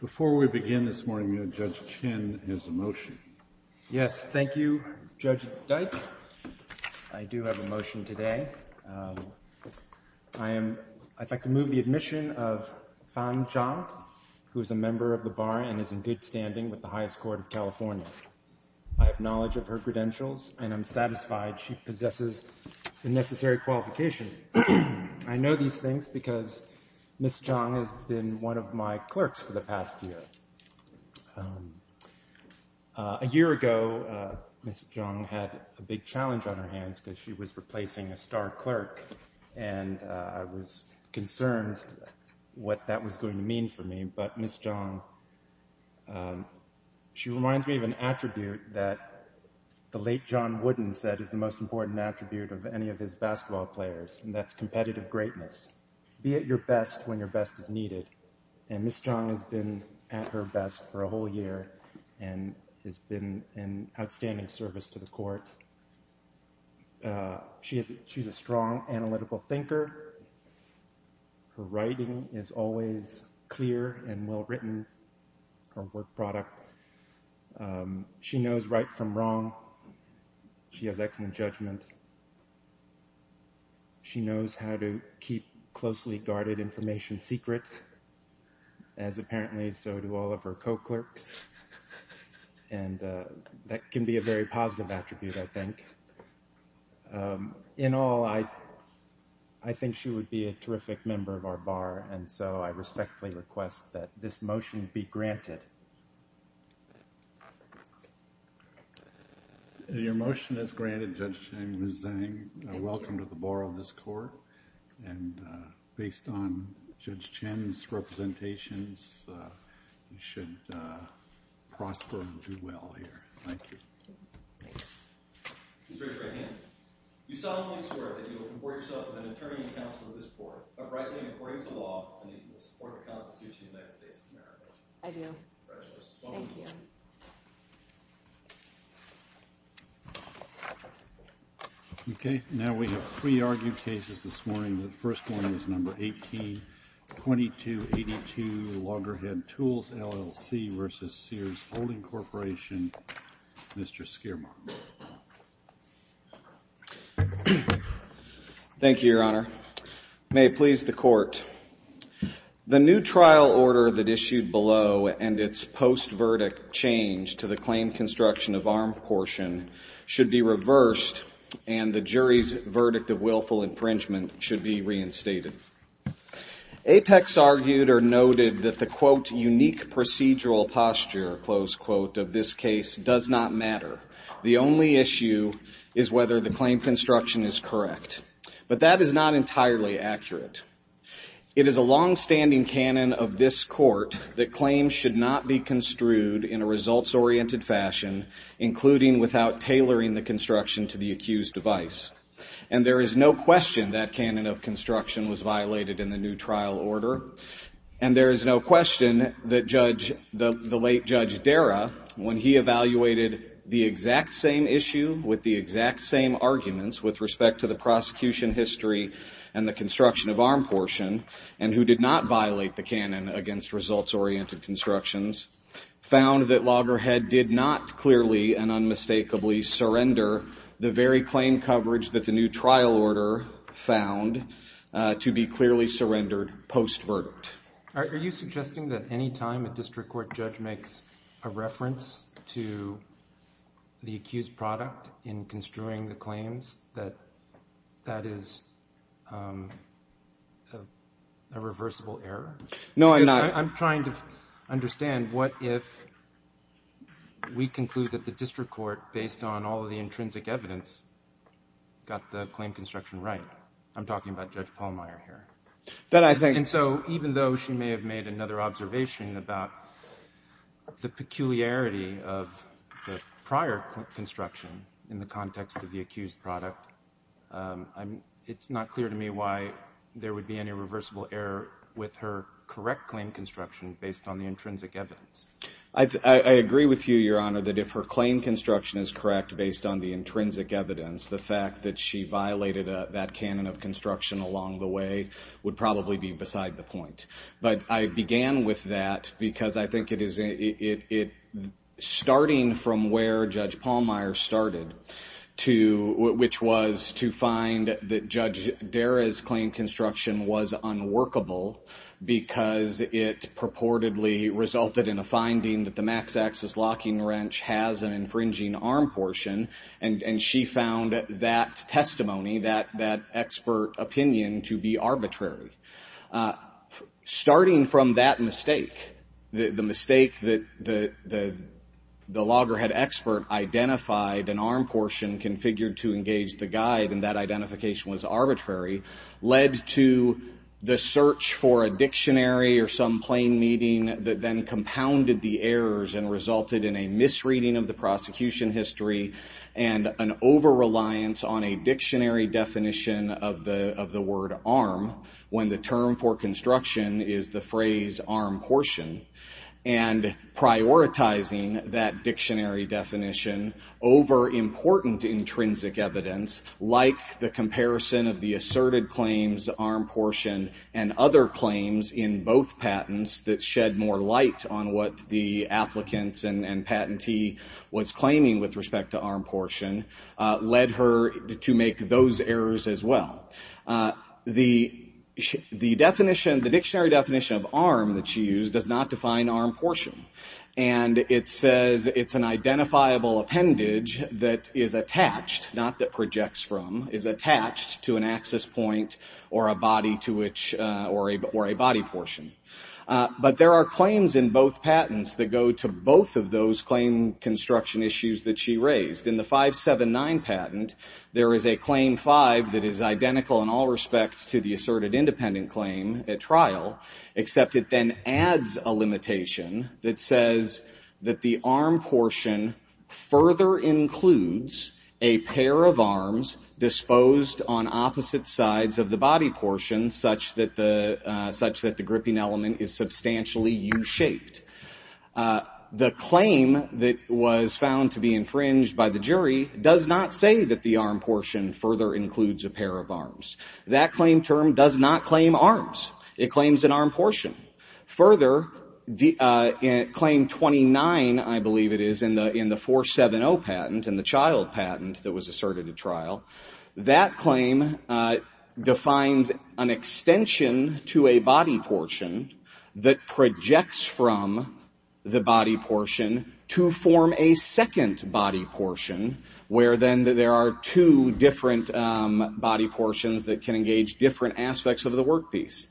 Before we begin this morning, Judge Chin has a motion. Yes, thank you, Judge Dyke. I do have a motion today. I'd like to move the admission of Fan Zhang, who is a member of the Bar and is in good standing with the Highest Court of California. I have knowledge of her credentials and I'm satisfied she possesses the necessary qualifications. I know these things because Ms. Zhang has been one of my clerks for the past year. A year ago, Ms. Zhang had a big challenge on her hands because she was replacing a star clerk and I was concerned what that was going to mean for me. But Ms. Zhang, she reminds me of an attribute that the late John Wooden said is the most important attribute of any of his basketball players and that's competitive greatness. Be at your best when your best is needed and Ms. Zhang has been at her best for a whole year and has been an outstanding service to the court. She's a strong analytical thinker. Her writing is always clear and well written, her work product. She knows right from wrong. She has excellent judgment. She knows how to keep closely guarded information secret, as apparently so do all of her co-clerks and that can be a very positive attribute, I think. In all, I think she would be a terrific member of our Bar and so I respectfully request that this motion be granted. Your motion is granted Judge Chen, Ms. Zhang. Welcome to the Bar of this Court and based on Judge Chen's representations, you should prosper and do well here. Thank you. Please raise your right hand. You solemnly swear that you will comport yourself as an attorney and counsel of this court, uprightly and according to law, and in the support of the Constitution of the United States of America. I do. Congratulations. Thank you. Okay. Now we have three argued cases this morning. The first one is number 182282, Loggerhead Tools, LLC versus Sears Holding Corporation. Mr. Skiermark. Thank you, Your Honor. May it please the Court. The new trial order that issued below and its post-verdict change to the claim construction of arm portion should be reversed and the jury's verdict of willful infringement should be reinstated. Apex argued or noted that the, quote, unique procedural posture, close quote, of this case does not matter. The only issue is whether the claim construction is correct, but that is not entirely accurate. It is a longstanding canon of this court that claims should not be construed in a results-oriented fashion, including without tailoring the construction to the accused device. And there is no question that canon of construction was violated in the new trial order. And there is no question that Judge, the late Judge Dara, when he evaluated the exact same issue with the exact same arguments with respect to the prosecution history and the construction of arm portion, and who did not violate the canon against results-oriented constructions, found that Loggerhead did not clearly and unmistakably surrender the very claim coverage that the new trial order found to be clearly surrendered post-verdict. Are you suggesting that any time a district court judge makes a reference to the accused product in construing the claims that that is a reversible error? No, I'm not. I'm trying to understand what if we conclude that the district court, based on all of the intrinsic evidence, got the claim construction right. I'm talking about Judge Pallmeyer here. And so even though she may have made another observation about the peculiarity of the prior construction in the context of the accused product, it's not clear to me why there would be any reversible error with her correct claim construction based on the intrinsic evidence. I agree with you, Your Honor, that if her claim construction is correct based on the intrinsic evidence, the fact that she violated that canon of construction along the way would probably be beside the point. But I began with that because I think it is starting from where Judge Pallmeyer started, which was to find that Judge Dara's claim construction was unworkable because it purportedly resulted in a finding that the max-axis locking wrench has an infringing arm portion, and she found that testimony, that expert opinion, to be arbitrary. Starting from that mistake, the mistake that the loggerhead expert identified an arm portion configured to engage the guide, and that identification was arbitrary, led to the search for a dictionary or some plain meaning that then compounded the errors and resulted in a misreading of the prosecution history and an over-reliance on a dictionary definition of the word arm, when the term for construction is the phrase arm portion, and prioritizing that dictionary definition over important intrinsic evidence, like the comparison of the asserted claims arm portion and other claims in both patents that shed more light on what the applicant and patentee was claiming with respect to arm portion, led her to make those errors as well. The dictionary definition of arm that she used does not define arm portion, and it says it's an identifiable appendage that is attached, not that projects from, is attached to an axis point or a body portion. But there are claims in both patents that go to both of those claim construction issues that she raised. In the 579 patent, there is a claim five that is identical in all respects to the asserted independent claim at trial, except it then adds a limitation that says that the arm portion further includes a pair of arms disposed on opposite sides of the body portion, such that the gripping element is substantially U-shaped. The claim that was found to be infringed by the jury does not say that the arm portion further includes a pair of arms. That claim term does not claim arms. It claims an arm portion. Further, claim 29, I believe it is, in the 470 patent, in the child patent that was asserted at trial, that claim defines an extension to a body portion that projects from the body portion to form a second body portion, where then there are two different body portions that can engage different aspects of the work piece.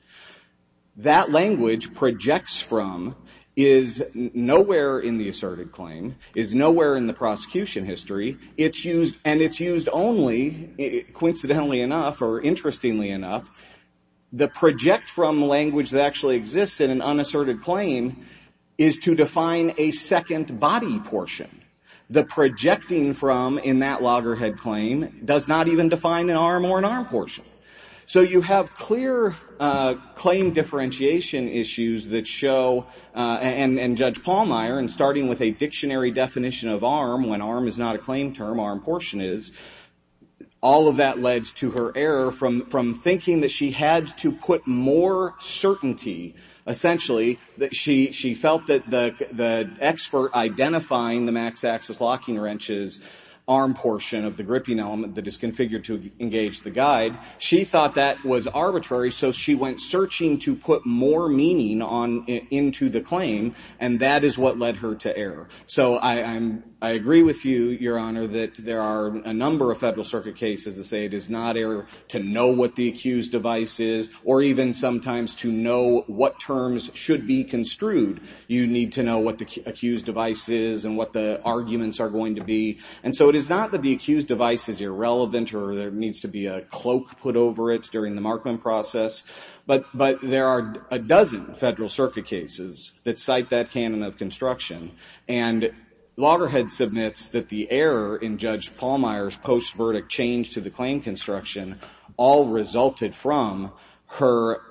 That language, projects from, is nowhere in the asserted claim, is nowhere in the prosecution history. And it's used only, coincidentally enough or interestingly enough, the project from language that actually exists in an unasserted claim is to define a second body portion. The projecting from in that loggerhead claim does not even define an arm or an arm portion. So you have clear claim differentiation issues that show, and Judge Pallmeyer, in starting with a dictionary definition of arm, when arm is not a claim term, arm portion is, all of that led to her error from thinking that she had to put more certainty. Essentially, she felt that the expert identifying the max axis locking wrenches arm portion of the gripping element that is configured to engage the guide, she thought that was arbitrary, so she went searching to put more meaning into the claim, and that is what led her to error. So I agree with you, Your Honor, that there are a number of Federal Circuit cases that say it is not error to know what the accused device is, or even sometimes to know what terms should be construed. You need to know what the accused device is and what the arguments are going to be. And so it is not that the accused device is irrelevant or there needs to be a cloak put over it during the markment process, but there are a dozen Federal Circuit cases that cite that canon of construction, and loggerhead submits that the error in Judge Pallmeyer's post-verdict change to the claim construction all resulted from her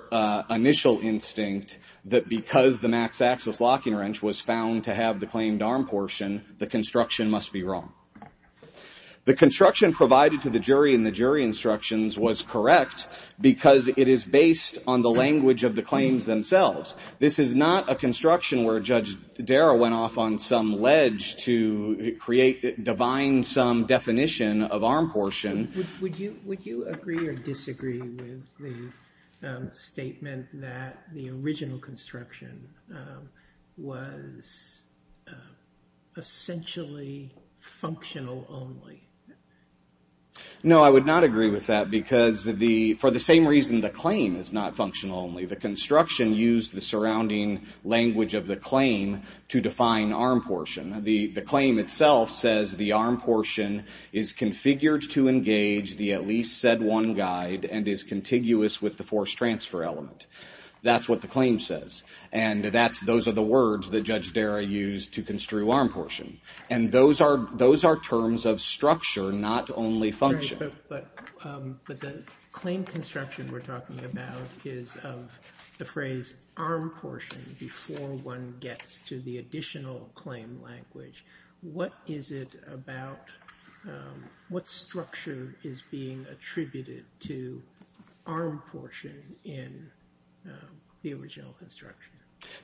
initial instinct that because the max axis locking wrench was found to have the claimed arm portion, the construction must be wrong. The construction provided to the jury in the jury instructions was correct because it is based on the language of the claims themselves. This is not a construction where Judge Darrow went off on some ledge to create, divine some definition of arm portion. Would you agree or disagree with the statement that the original construction was essentially functional only? No, I would not agree with that because for the same reason the claim is not functional only. The construction used the surrounding language of the claim to define arm portion. The claim itself says the arm portion is configured to engage the at least said one guide and is contiguous with the forced transfer element. That's what the claim says. And those are the words that Judge Darrow used to construe arm portion. And those are terms of structure, not only function. But the claim construction we're talking about is of the phrase arm portion before one gets to the additional claim language. What is it about, what structure is being attributed to arm portion in the original construction?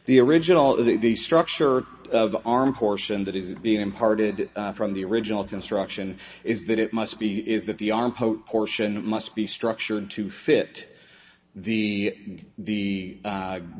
The original, the structure of arm portion that is being imparted from the original construction is that it must be, is that the arm portion must be structured to fit the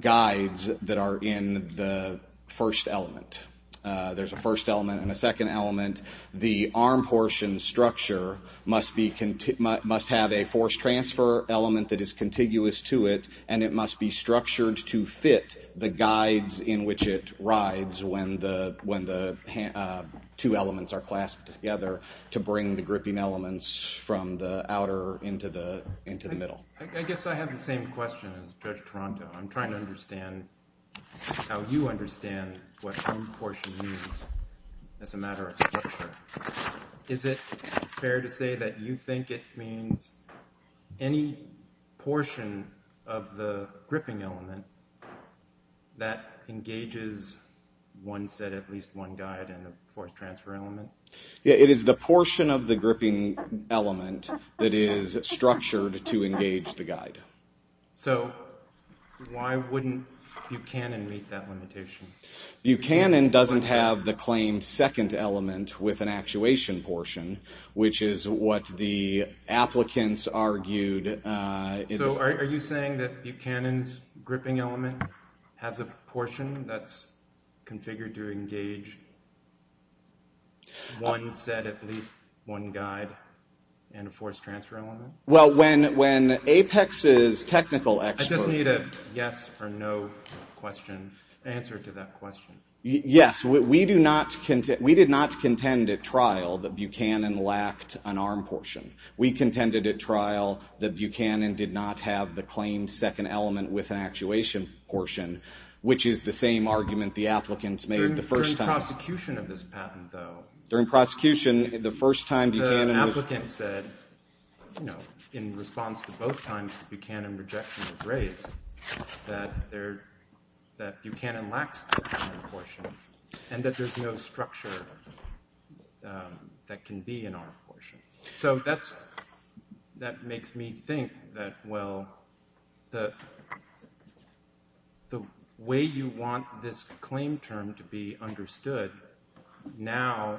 guides that are in the first element. There's a first element and a second element. The arm portion structure must be, must have a forced transfer element that is contiguous to it and it must be structured to fit the guides in which it rides when the two elements are clasped together to bring the gripping elements from the outer into the middle. I guess I have the same question as Judge Toronto. I'm trying to understand how you understand what arm portion means as a matter of structure. Is it fair to say that you think it means any portion of the gripping element that engages one set, at least one guide in the forced transfer element? Yeah, it is the portion of the gripping element that is structured to engage the guide. So why wouldn't Buchanan meet that limitation? Buchanan doesn't have the claimed second element with an actuation portion, which is what the applicants argued. So are you saying that Buchanan's gripping element has a portion that's configured to engage one set, at least one guide in a forced transfer element? Well, when Apex's technical expert... I just need a yes or no question, answer to that question. Yes, we did not contend at trial that Buchanan lacked an arm portion. We contended at trial that Buchanan did not have the claimed second element with an actuation portion, which is the same argument the applicants made the first time. During prosecution of this patent, though... During prosecution, the first time Buchanan was... In response to both times, the Buchanan rejection was raised that Buchanan lacks an arm portion and that there's no structure that can be an arm portion. So that makes me think that, well, the way you want this claim term to be understood now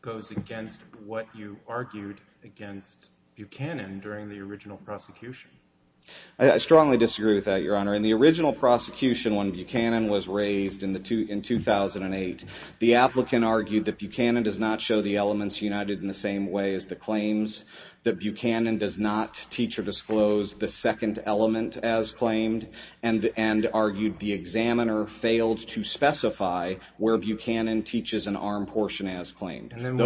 goes against what you argued against Buchanan during the original prosecution. I strongly disagree with that, Your Honor. In the original prosecution, when Buchanan was raised in 2008, the applicant argued that Buchanan does not show the elements united in the same way as the claims, that Buchanan does not teach or disclose the second element as claimed, and argued the examiner failed to specify where Buchanan teaches an arm portion as claimed. And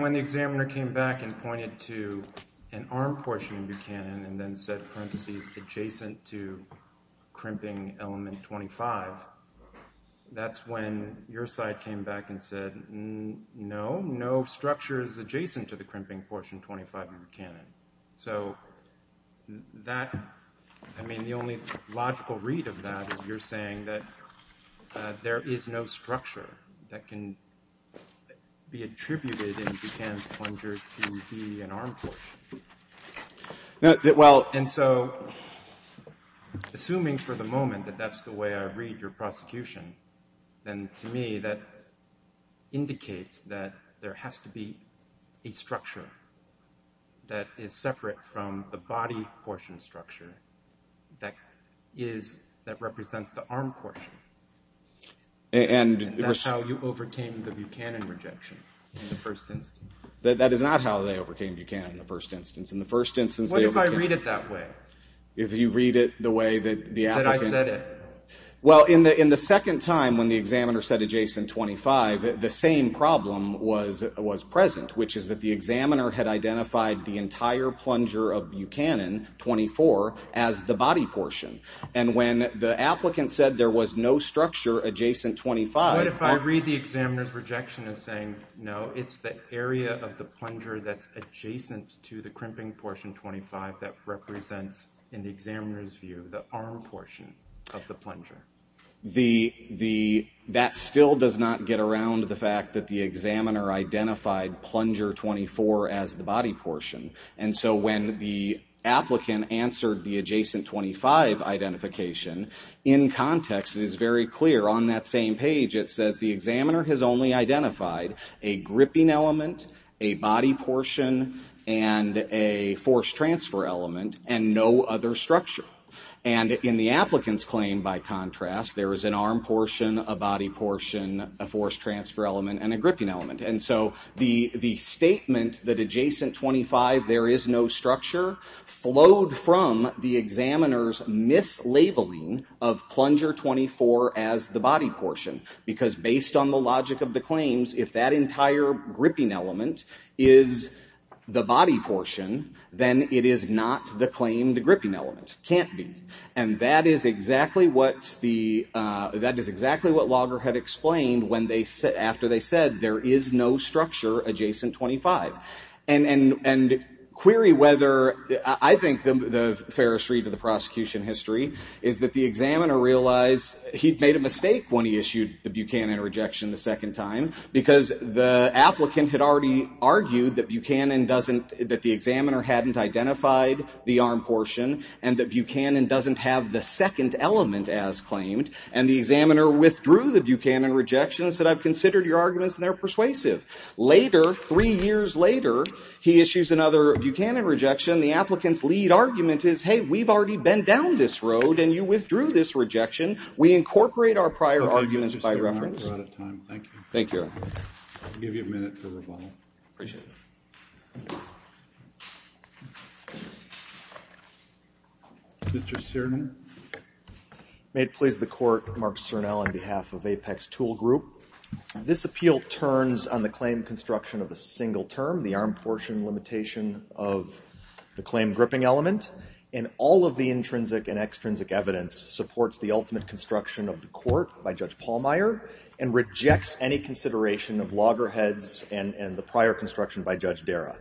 when the examiner came back and pointed to an arm portion in Buchanan and then said parentheses adjacent to crimping element 25, that's when your side came back and said, no, no structure is adjacent to the crimping portion 25 in Buchanan. So that, I mean, the only logical read of that is you're saying that there is no structure that can be attributed in Buchanan's plunger to be an arm portion. Well, and so, assuming for the moment that that's the way I read your prosecution, then to me that indicates that there has to be a structure that is separate from the body portion structure that represents the arm portion. And that's how you overcame the Buchanan rejection in the first instance. That is not how they overcame Buchanan in the first instance. What if I read it that way, that I said it? Well, in the second time when the examiner said adjacent 25, the same problem was present, which is that the examiner had identified the entire plunger of Buchanan 24 as the body portion. And when the applicant said there was no structure adjacent 25. What if I read the examiner's rejection as saying, no, it's the area of the plunger that's adjacent to the crimping portion 25 that represents, in the examiner's view, the arm portion of the plunger? That still does not get around the fact that the examiner identified plunger 24 as the body portion. And so when the applicant answered the adjacent 25 identification, in context it is very clear on that same page it says the examiner has only identified a gripping element, a body portion, and a force transfer element, and no other structure. And in the applicant's claim, by contrast, there is an arm portion, a body portion, a force transfer element, and a gripping element. And so the statement that adjacent 25, there is no structure, flowed from the examiner's mislabeling of plunger 24 as the body portion. Because based on the logic of the claims, if that entire gripping element is the body portion, then it is not the claimed gripping element. Can't be. And that is exactly what the, that is exactly what Lager had explained when they, after they said there is no structure adjacent 25. And query whether, I think the fairest read of the prosecution history, is that the examiner realized he'd made a mistake when he issued the Buchanan rejection the second time. Because the applicant had already argued that Buchanan doesn't, that the examiner hadn't identified the arm portion, and that Buchanan doesn't have the second element as claimed. And the examiner withdrew the Buchanan rejection and said, I've considered your arguments and they're persuasive. Later, three years later, he issues another Buchanan rejection. The applicant's lead argument is, hey, we've already been down this road, and you withdrew this rejection. We incorporate our prior arguments by reference. Thank you. Thank you. I'll give you a minute to rebuttal. Appreciate it. Mr. Cernan. May it please the court, Mark Cernan on behalf of Apex Tool Group. This appeal turns on the claim construction of a single term, the arm portion limitation of the claim gripping element, and all of the intrinsic and extrinsic evidence supports the ultimate construction of the court by Judge Pallmeyer and rejects any consideration of loggerheads and the prior construction by Judge Dera.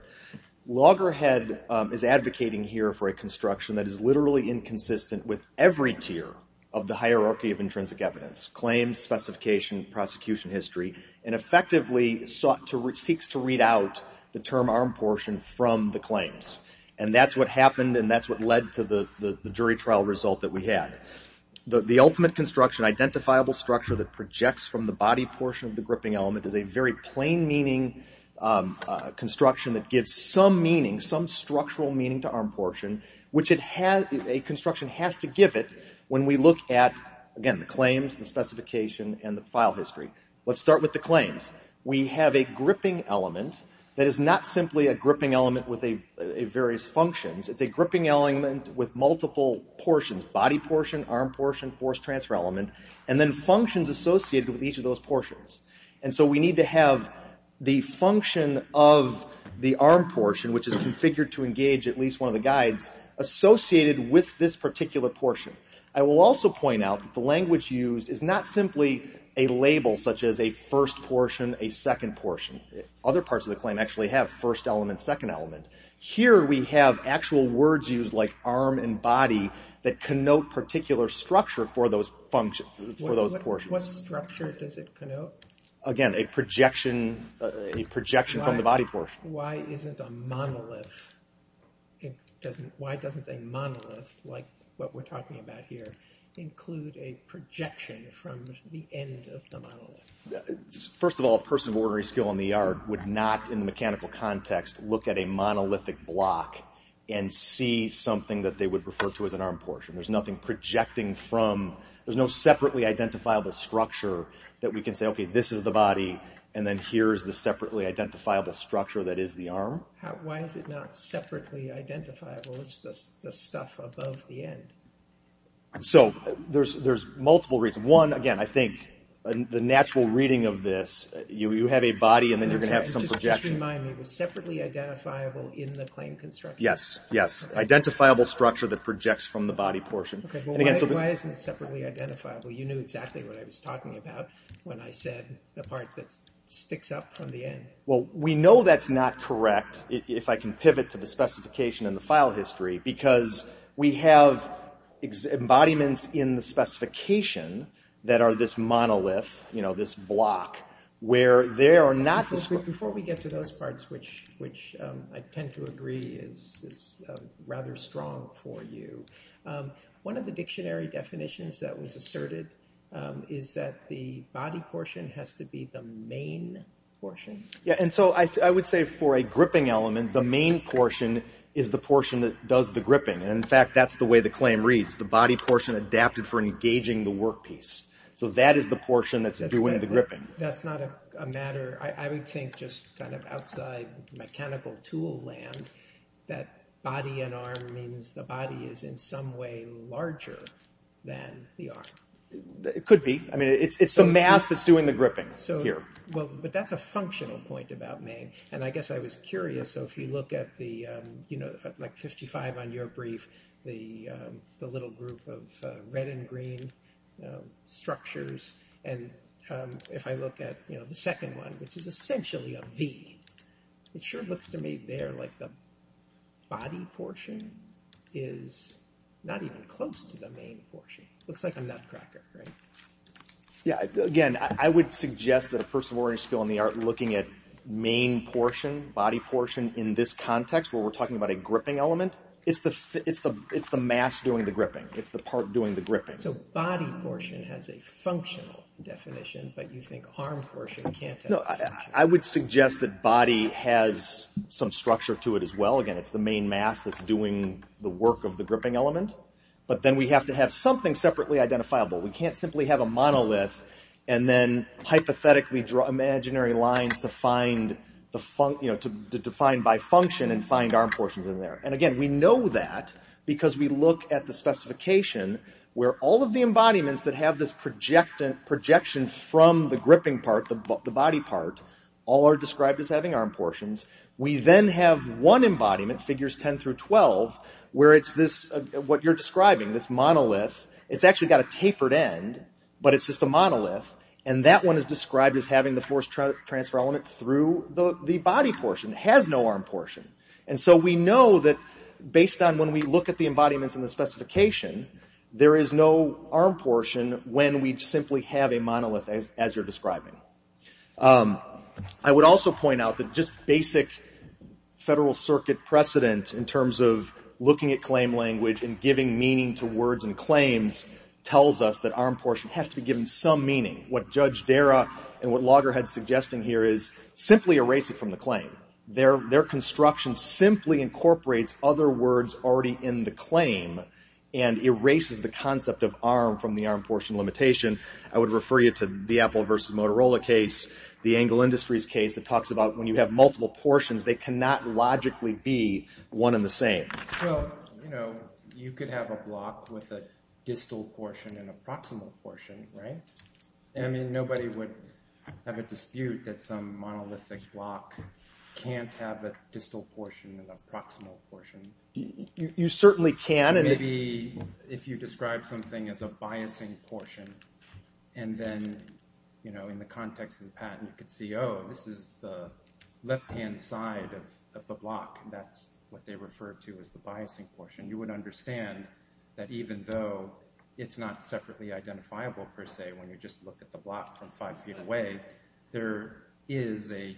Loggerhead is advocating here for a construction that is literally inconsistent with every tier of the hierarchy of intrinsic evidence, claims, specification, prosecution history, and effectively seeks to read out the term arm portion from the claims. And that's what happened, and that's what led to the jury trial result that we had. The ultimate construction, identifiable structure that projects from the body portion of the gripping element, is a very plain-meaning construction that gives some meaning, some structural meaning to arm portion, which a construction has to give it when we look at, again, the claims, the specification, and the file history. Let's start with the claims. We have a gripping element that is not simply a gripping element with various functions. It's a gripping element with multiple portions, body portion, arm portion, force transfer element, and then functions associated with each of those portions. And so we need to have the function of the arm portion, which is configured to engage at least one of the guides, associated with this particular portion. I will also point out that the language used is not simply a label such as a first portion, a second portion. Other parts of the claim actually have first element, second element. Here we have actual words used like arm and body that connote particular structure for those portions. What structure does it connote? Again, a projection from the body portion. Why isn't a monolith, why doesn't a monolith, like what we're talking about here, include a projection from the end of the monolith? First of all, a person of ordinary skill in the yard would not, in the mechanical context, look at a monolithic block and see something that they would refer to as an arm portion. There's nothing projecting from, there's no separately identifiable structure that we can say, okay, this is the body and then here is the separately identifiable structure that is the arm. Why is it not separately identifiable? It's the stuff above the end. So there's multiple reasons. One, again, I think the natural reading of this, you have a body and then you're going to have some projection. Just remind me, it was separately identifiable in the claim construction? Yes, yes, identifiable structure that projects from the body portion. Why isn't it separately identifiable? You knew exactly what I was talking about when I said the part that sticks up from the end. Well, we know that's not correct, if I can pivot to the specification in the file history, because we have embodiments in the specification that are this monolith, this block, Before we get to those parts, which I tend to agree is rather strong for you, one of the dictionary definitions that was asserted is that the body portion has to be the main portion. Yeah, and so I would say for a gripping element, the main portion is the portion that does the gripping. In fact, that's the way the claim reads, the body portion adapted for engaging the work piece. So that is the portion that's doing the gripping. That's not a matter, I would think just kind of outside mechanical tool land, that body and arm means the body is in some way larger than the arm. It could be, I mean, it's the mass that's doing the gripping here. Well, but that's a functional point about main, and I guess I was curious, so if you look at the, you know, like 55 on your brief, the little group of red and green structures, and if I look at, you know, the second one, which is essentially a V, it sure looks to me there like the body portion is not even close to the main portion. It looks like a nutcracker, right? Yeah, again, I would suggest that a person with a learning skill in the art looking at main portion, body portion in this context where we're talking about a gripping element, it's the mass doing the gripping. It's the part doing the gripping. So body portion has a functional definition, but you think arm portion can't have a functional definition. No, I would suggest that body has some structure to it as well. Again, it's the main mass that's doing the work of the gripping element, but then we have to have something separately identifiable. We can't simply have a monolith and then hypothetically draw imaginary lines to find, you know, to define by function and find arm portions in there. And again, we know that because we look at the specification where all of the embodiments that have this projection from the gripping part, the body part, all are described as having arm portions. We then have one embodiment, figures 10 through 12, where it's this, what you're describing, this monolith. It's actually got a tapered end, but it's just a monolith, and that one is described as having the force transfer element through the body portion. It has no arm portion. And so we know that based on when we look at the embodiments in the specification, there is no arm portion when we simply have a monolith as you're describing. I would also point out that just basic Federal Circuit precedent in terms of looking at claim language and giving meaning to words and claims tells us that arm portion has to be given some meaning. What Judge Dara and what Loggerhead is suggesting here is simply erase it from the claim. Their construction simply incorporates other words already in the claim and erases the concept of arm from the arm portion limitation. I would refer you to the Apple v. Motorola case, the Engel Industries case, that talks about when you have multiple portions, they cannot logically be one and the same. Well, you know, you could have a block with a distal portion and a proximal portion, right? I mean, nobody would have a dispute that some monolithic block can't have a distal portion and a proximal portion. You certainly can. Maybe if you describe something as a biasing portion, and then, you know, in the context of the patent, you could see, oh, this is the left-hand side of the block, and that's what they refer to as the biasing portion. You would understand that even though it's not separately identifiable, per se, when you just look at the block from five feet away, there is a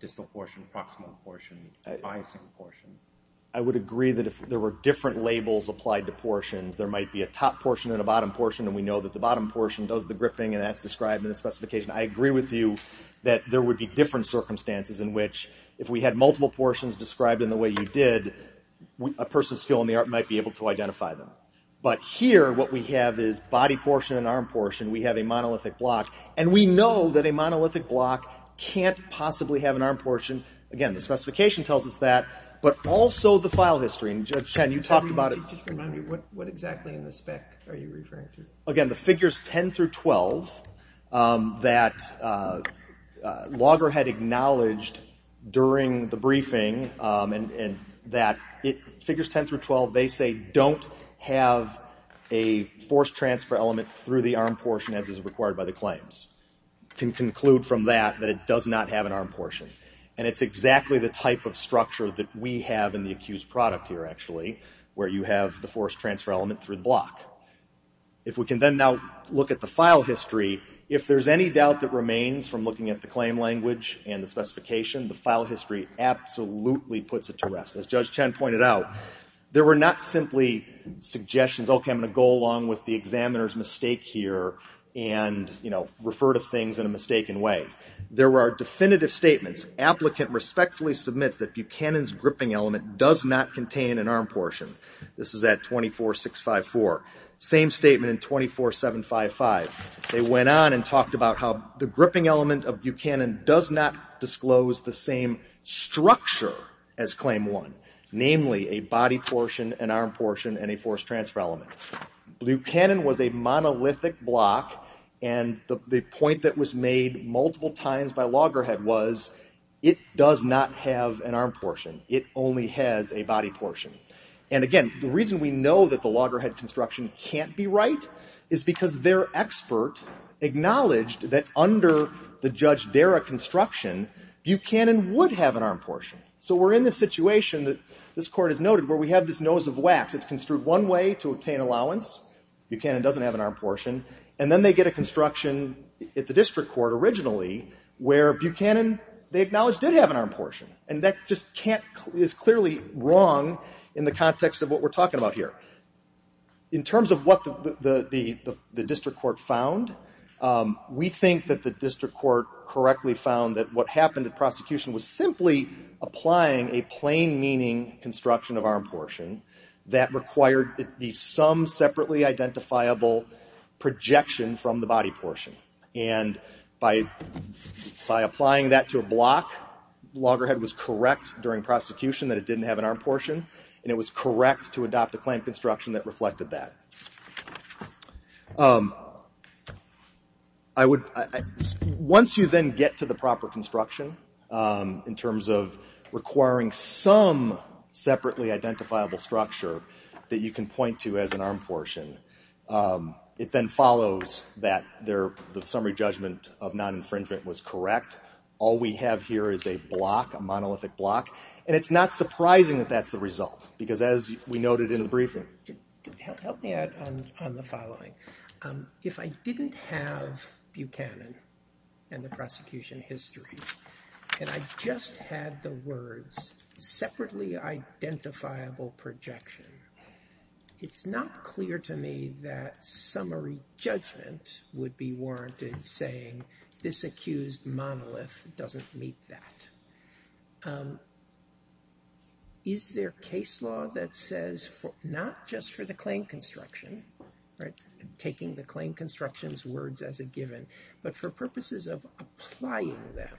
distal portion, a proximal portion, a biasing portion. I would agree that if there were different labels applied to portions, there might be a top portion and a bottom portion, and we know that the bottom portion does the gripping, and that's described in the specification. I agree with you that there would be different circumstances in which, if we had multiple portions described in the way you did, a person of skill in the art might be able to identify them. But here, what we have is body portion and arm portion. We have a monolithic block, and we know that a monolithic block can't possibly have an arm portion. Again, the specification tells us that, but also the file history. And, Judge Chen, you talked about it. Just remind me, what exactly in the spec are you referring to? Again, the figures 10 through 12 that Logger had acknowledged during the briefing, and that figures 10 through 12, they say, don't have a forced transfer element through the arm portion as is required by the claims. You can conclude from that that it does not have an arm portion. And it's exactly the type of structure that we have in the accused product here, actually, where you have the forced transfer element through the block. If we can then now look at the file history, if there's any doubt that remains from looking at the claim language and the specification, the file history absolutely puts it to rest. As Judge Chen pointed out, there were not simply suggestions, okay, I'm going to go along with the examiner's mistake here and refer to things in a mistaken way. There were definitive statements. Applicant respectfully submits that Buchanan's gripping element does not contain an arm portion. This is at 24654. Same statement in 24755. They went on and talked about how the gripping element of Buchanan does not disclose the same structure as Claim 1, namely a body portion, an arm portion, and a forced transfer element. Buchanan was a monolithic block, and the point that was made multiple times by Loggerhead was it does not have an arm portion. It only has a body portion. And, again, the reason we know that the Loggerhead construction can't be right is because their expert acknowledged that under the Judge Dara construction, Buchanan would have an arm portion. So we're in this situation that this Court has noted where we have this nose of wax. It's construed one way to obtain allowance. Buchanan doesn't have an arm portion. And then they get a construction at the district court originally where Buchanan, they acknowledge, did have an arm portion. And that just is clearly wrong in the context of what we're talking about here. In terms of what the district court found, we think that the district court correctly found that what happened at prosecution was simply applying a plain meaning construction of arm portion that required it be some separately identifiable projection from the body portion. And by applying that to a block, Loggerhead was correct during prosecution that it didn't have an arm portion, and it was correct to adopt a claim construction that reflected that. Once you then get to the proper construction, in terms of requiring some separately identifiable structure that you can point to as an arm portion, it then follows that the summary judgment of non-infringement was correct. All we have here is a block, a monolithic block. And it's not surprising that that's the result. Because as we noted in the briefing... Help me out on the following. If I didn't have Buchanan and the prosecution history, and I just had the words separately identifiable projection, it's not clear to me that summary judgment would be warranted saying this accused monolith doesn't meet that. Is there case law that says not just for the claim construction, taking the claim construction's words as a given, but for purposes of applying them,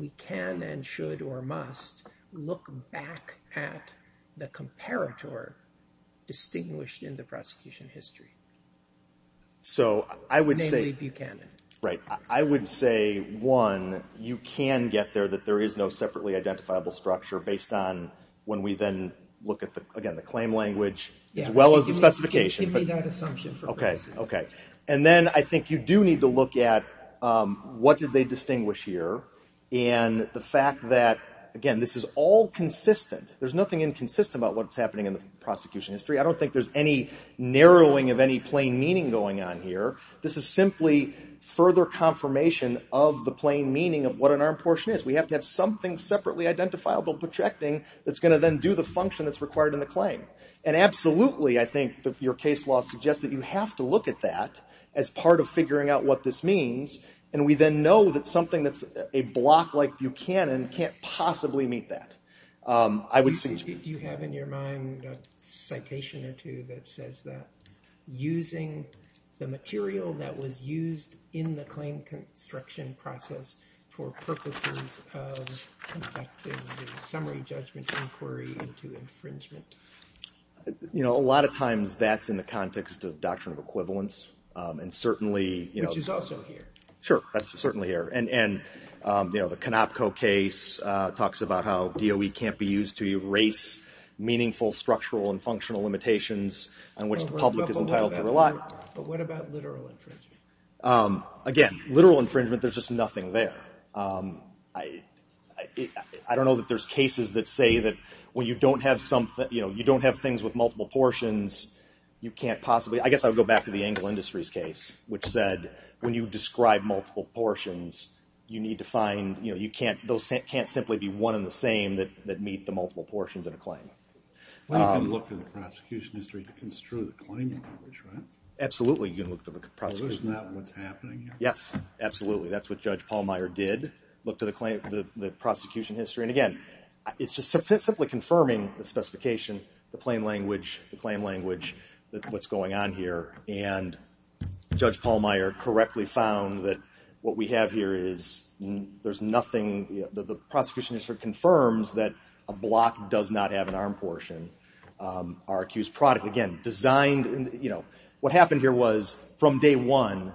we can and should or must look back at the comparator distinguished in the prosecution history, namely Buchanan. Right. I would say, one, you can get there that there is no separately identifiable structure based on when we then look at, again, the claim language, as well as the specification. Give me that assumption for purposes of... Okay. And then I think you do need to look at what did they distinguish here, and the fact that, again, this is all consistent. There's nothing inconsistent about what's happening in the prosecution history. I don't think there's any narrowing of any plain meaning going on here. This is simply further confirmation of the plain meaning of what an armed portion is. We have to have something separately identifiable projecting that's going to then do the function that's required in the claim. And absolutely, I think, your case law suggests that you have to look at that as part of figuring out what this means. And we then know that something that's a block like Buchanan can't possibly meet that. Do you have in your mind a citation or two that says that using the material that was used in the claim construction process for purposes of conducting a summary judgment inquiry into infringement? A lot of times that's in the context of doctrine of equivalence, and certainly... Which is also here. Sure, that's certainly here. And the Konopko case talks about how DOE can't be used to erase meaningful structural and functional limitations on which the public is entitled to rely. But what about literal infringement? Again, literal infringement, there's just nothing there. I don't know that there's cases that say that when you don't have things with multiple portions, you can't possibly... I guess I would go back to the Engel Industries case, which said when you describe multiple portions, you need to find... Those can't simply be one and the same that meet the multiple portions of a claim. Well, you can look to the prosecution history to construe the claim in which, right? Absolutely, you can look to the prosecution history. Isn't that what's happening here? Yes, absolutely. That's what Judge Pallmeyer did. Look to the prosecution history. And again, it's just simply confirming the specification, the claim language, what's going on here. And Judge Pallmeyer correctly found that what we have here is there's nothing... The prosecution history confirms that a block does not have an arm portion. Our accused product, again, designed... What happened here was from day one,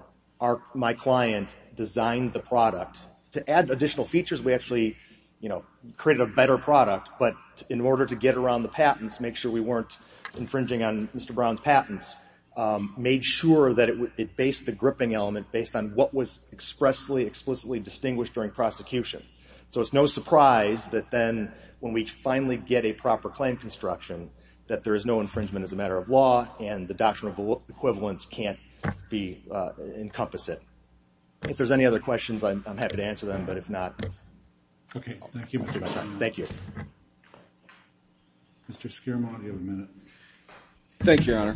my client designed the product. To add additional features, we actually created a better product. But in order to get around the patents, make sure we weren't infringing on Mr. Brown's patents, made sure that it based the gripping element based on what was expressly, explicitly distinguished during prosecution. So it's no surprise that then when we finally get a proper claim construction that there is no infringement as a matter of law and the doctrine of equivalence can't encompass it. If there's any other questions, I'm happy to answer them. But if not... Okay, thank you. Thank you. Mr. Skiermont, you have a minute. Thank you, Your Honor.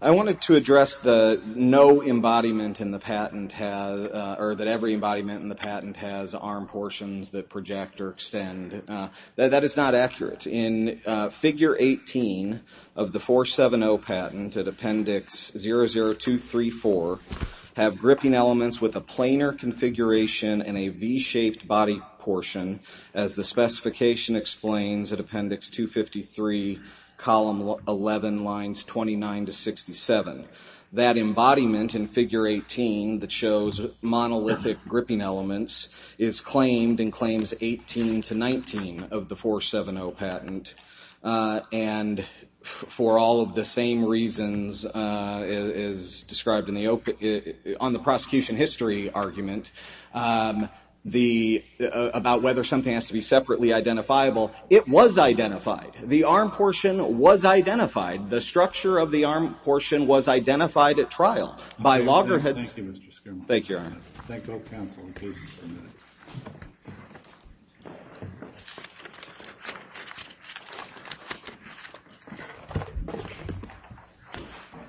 I wanted to address the no embodiment in the patent or that every embodiment in the patent has arm portions that project or extend. That is not accurate. In Figure 18 of the 470 patent at Appendix 00234 have gripping elements with a planar configuration and a V-shaped body portion as the specification explains at Appendix 253, Column 11, Lines 29 to 67. That embodiment in Figure 18 that shows monolithic gripping elements is claimed in Claims 18 to 19 of the 470 patent. And for all of the same reasons as described on the prosecution history argument about whether something has to be separately identifiable, it was identified. The arm portion was identified. The structure of the arm portion was identified at trial by loggerheads... Thank you, Mr. Skiermont. Thank you, Your Honor. Thank all counsel and cases submitted.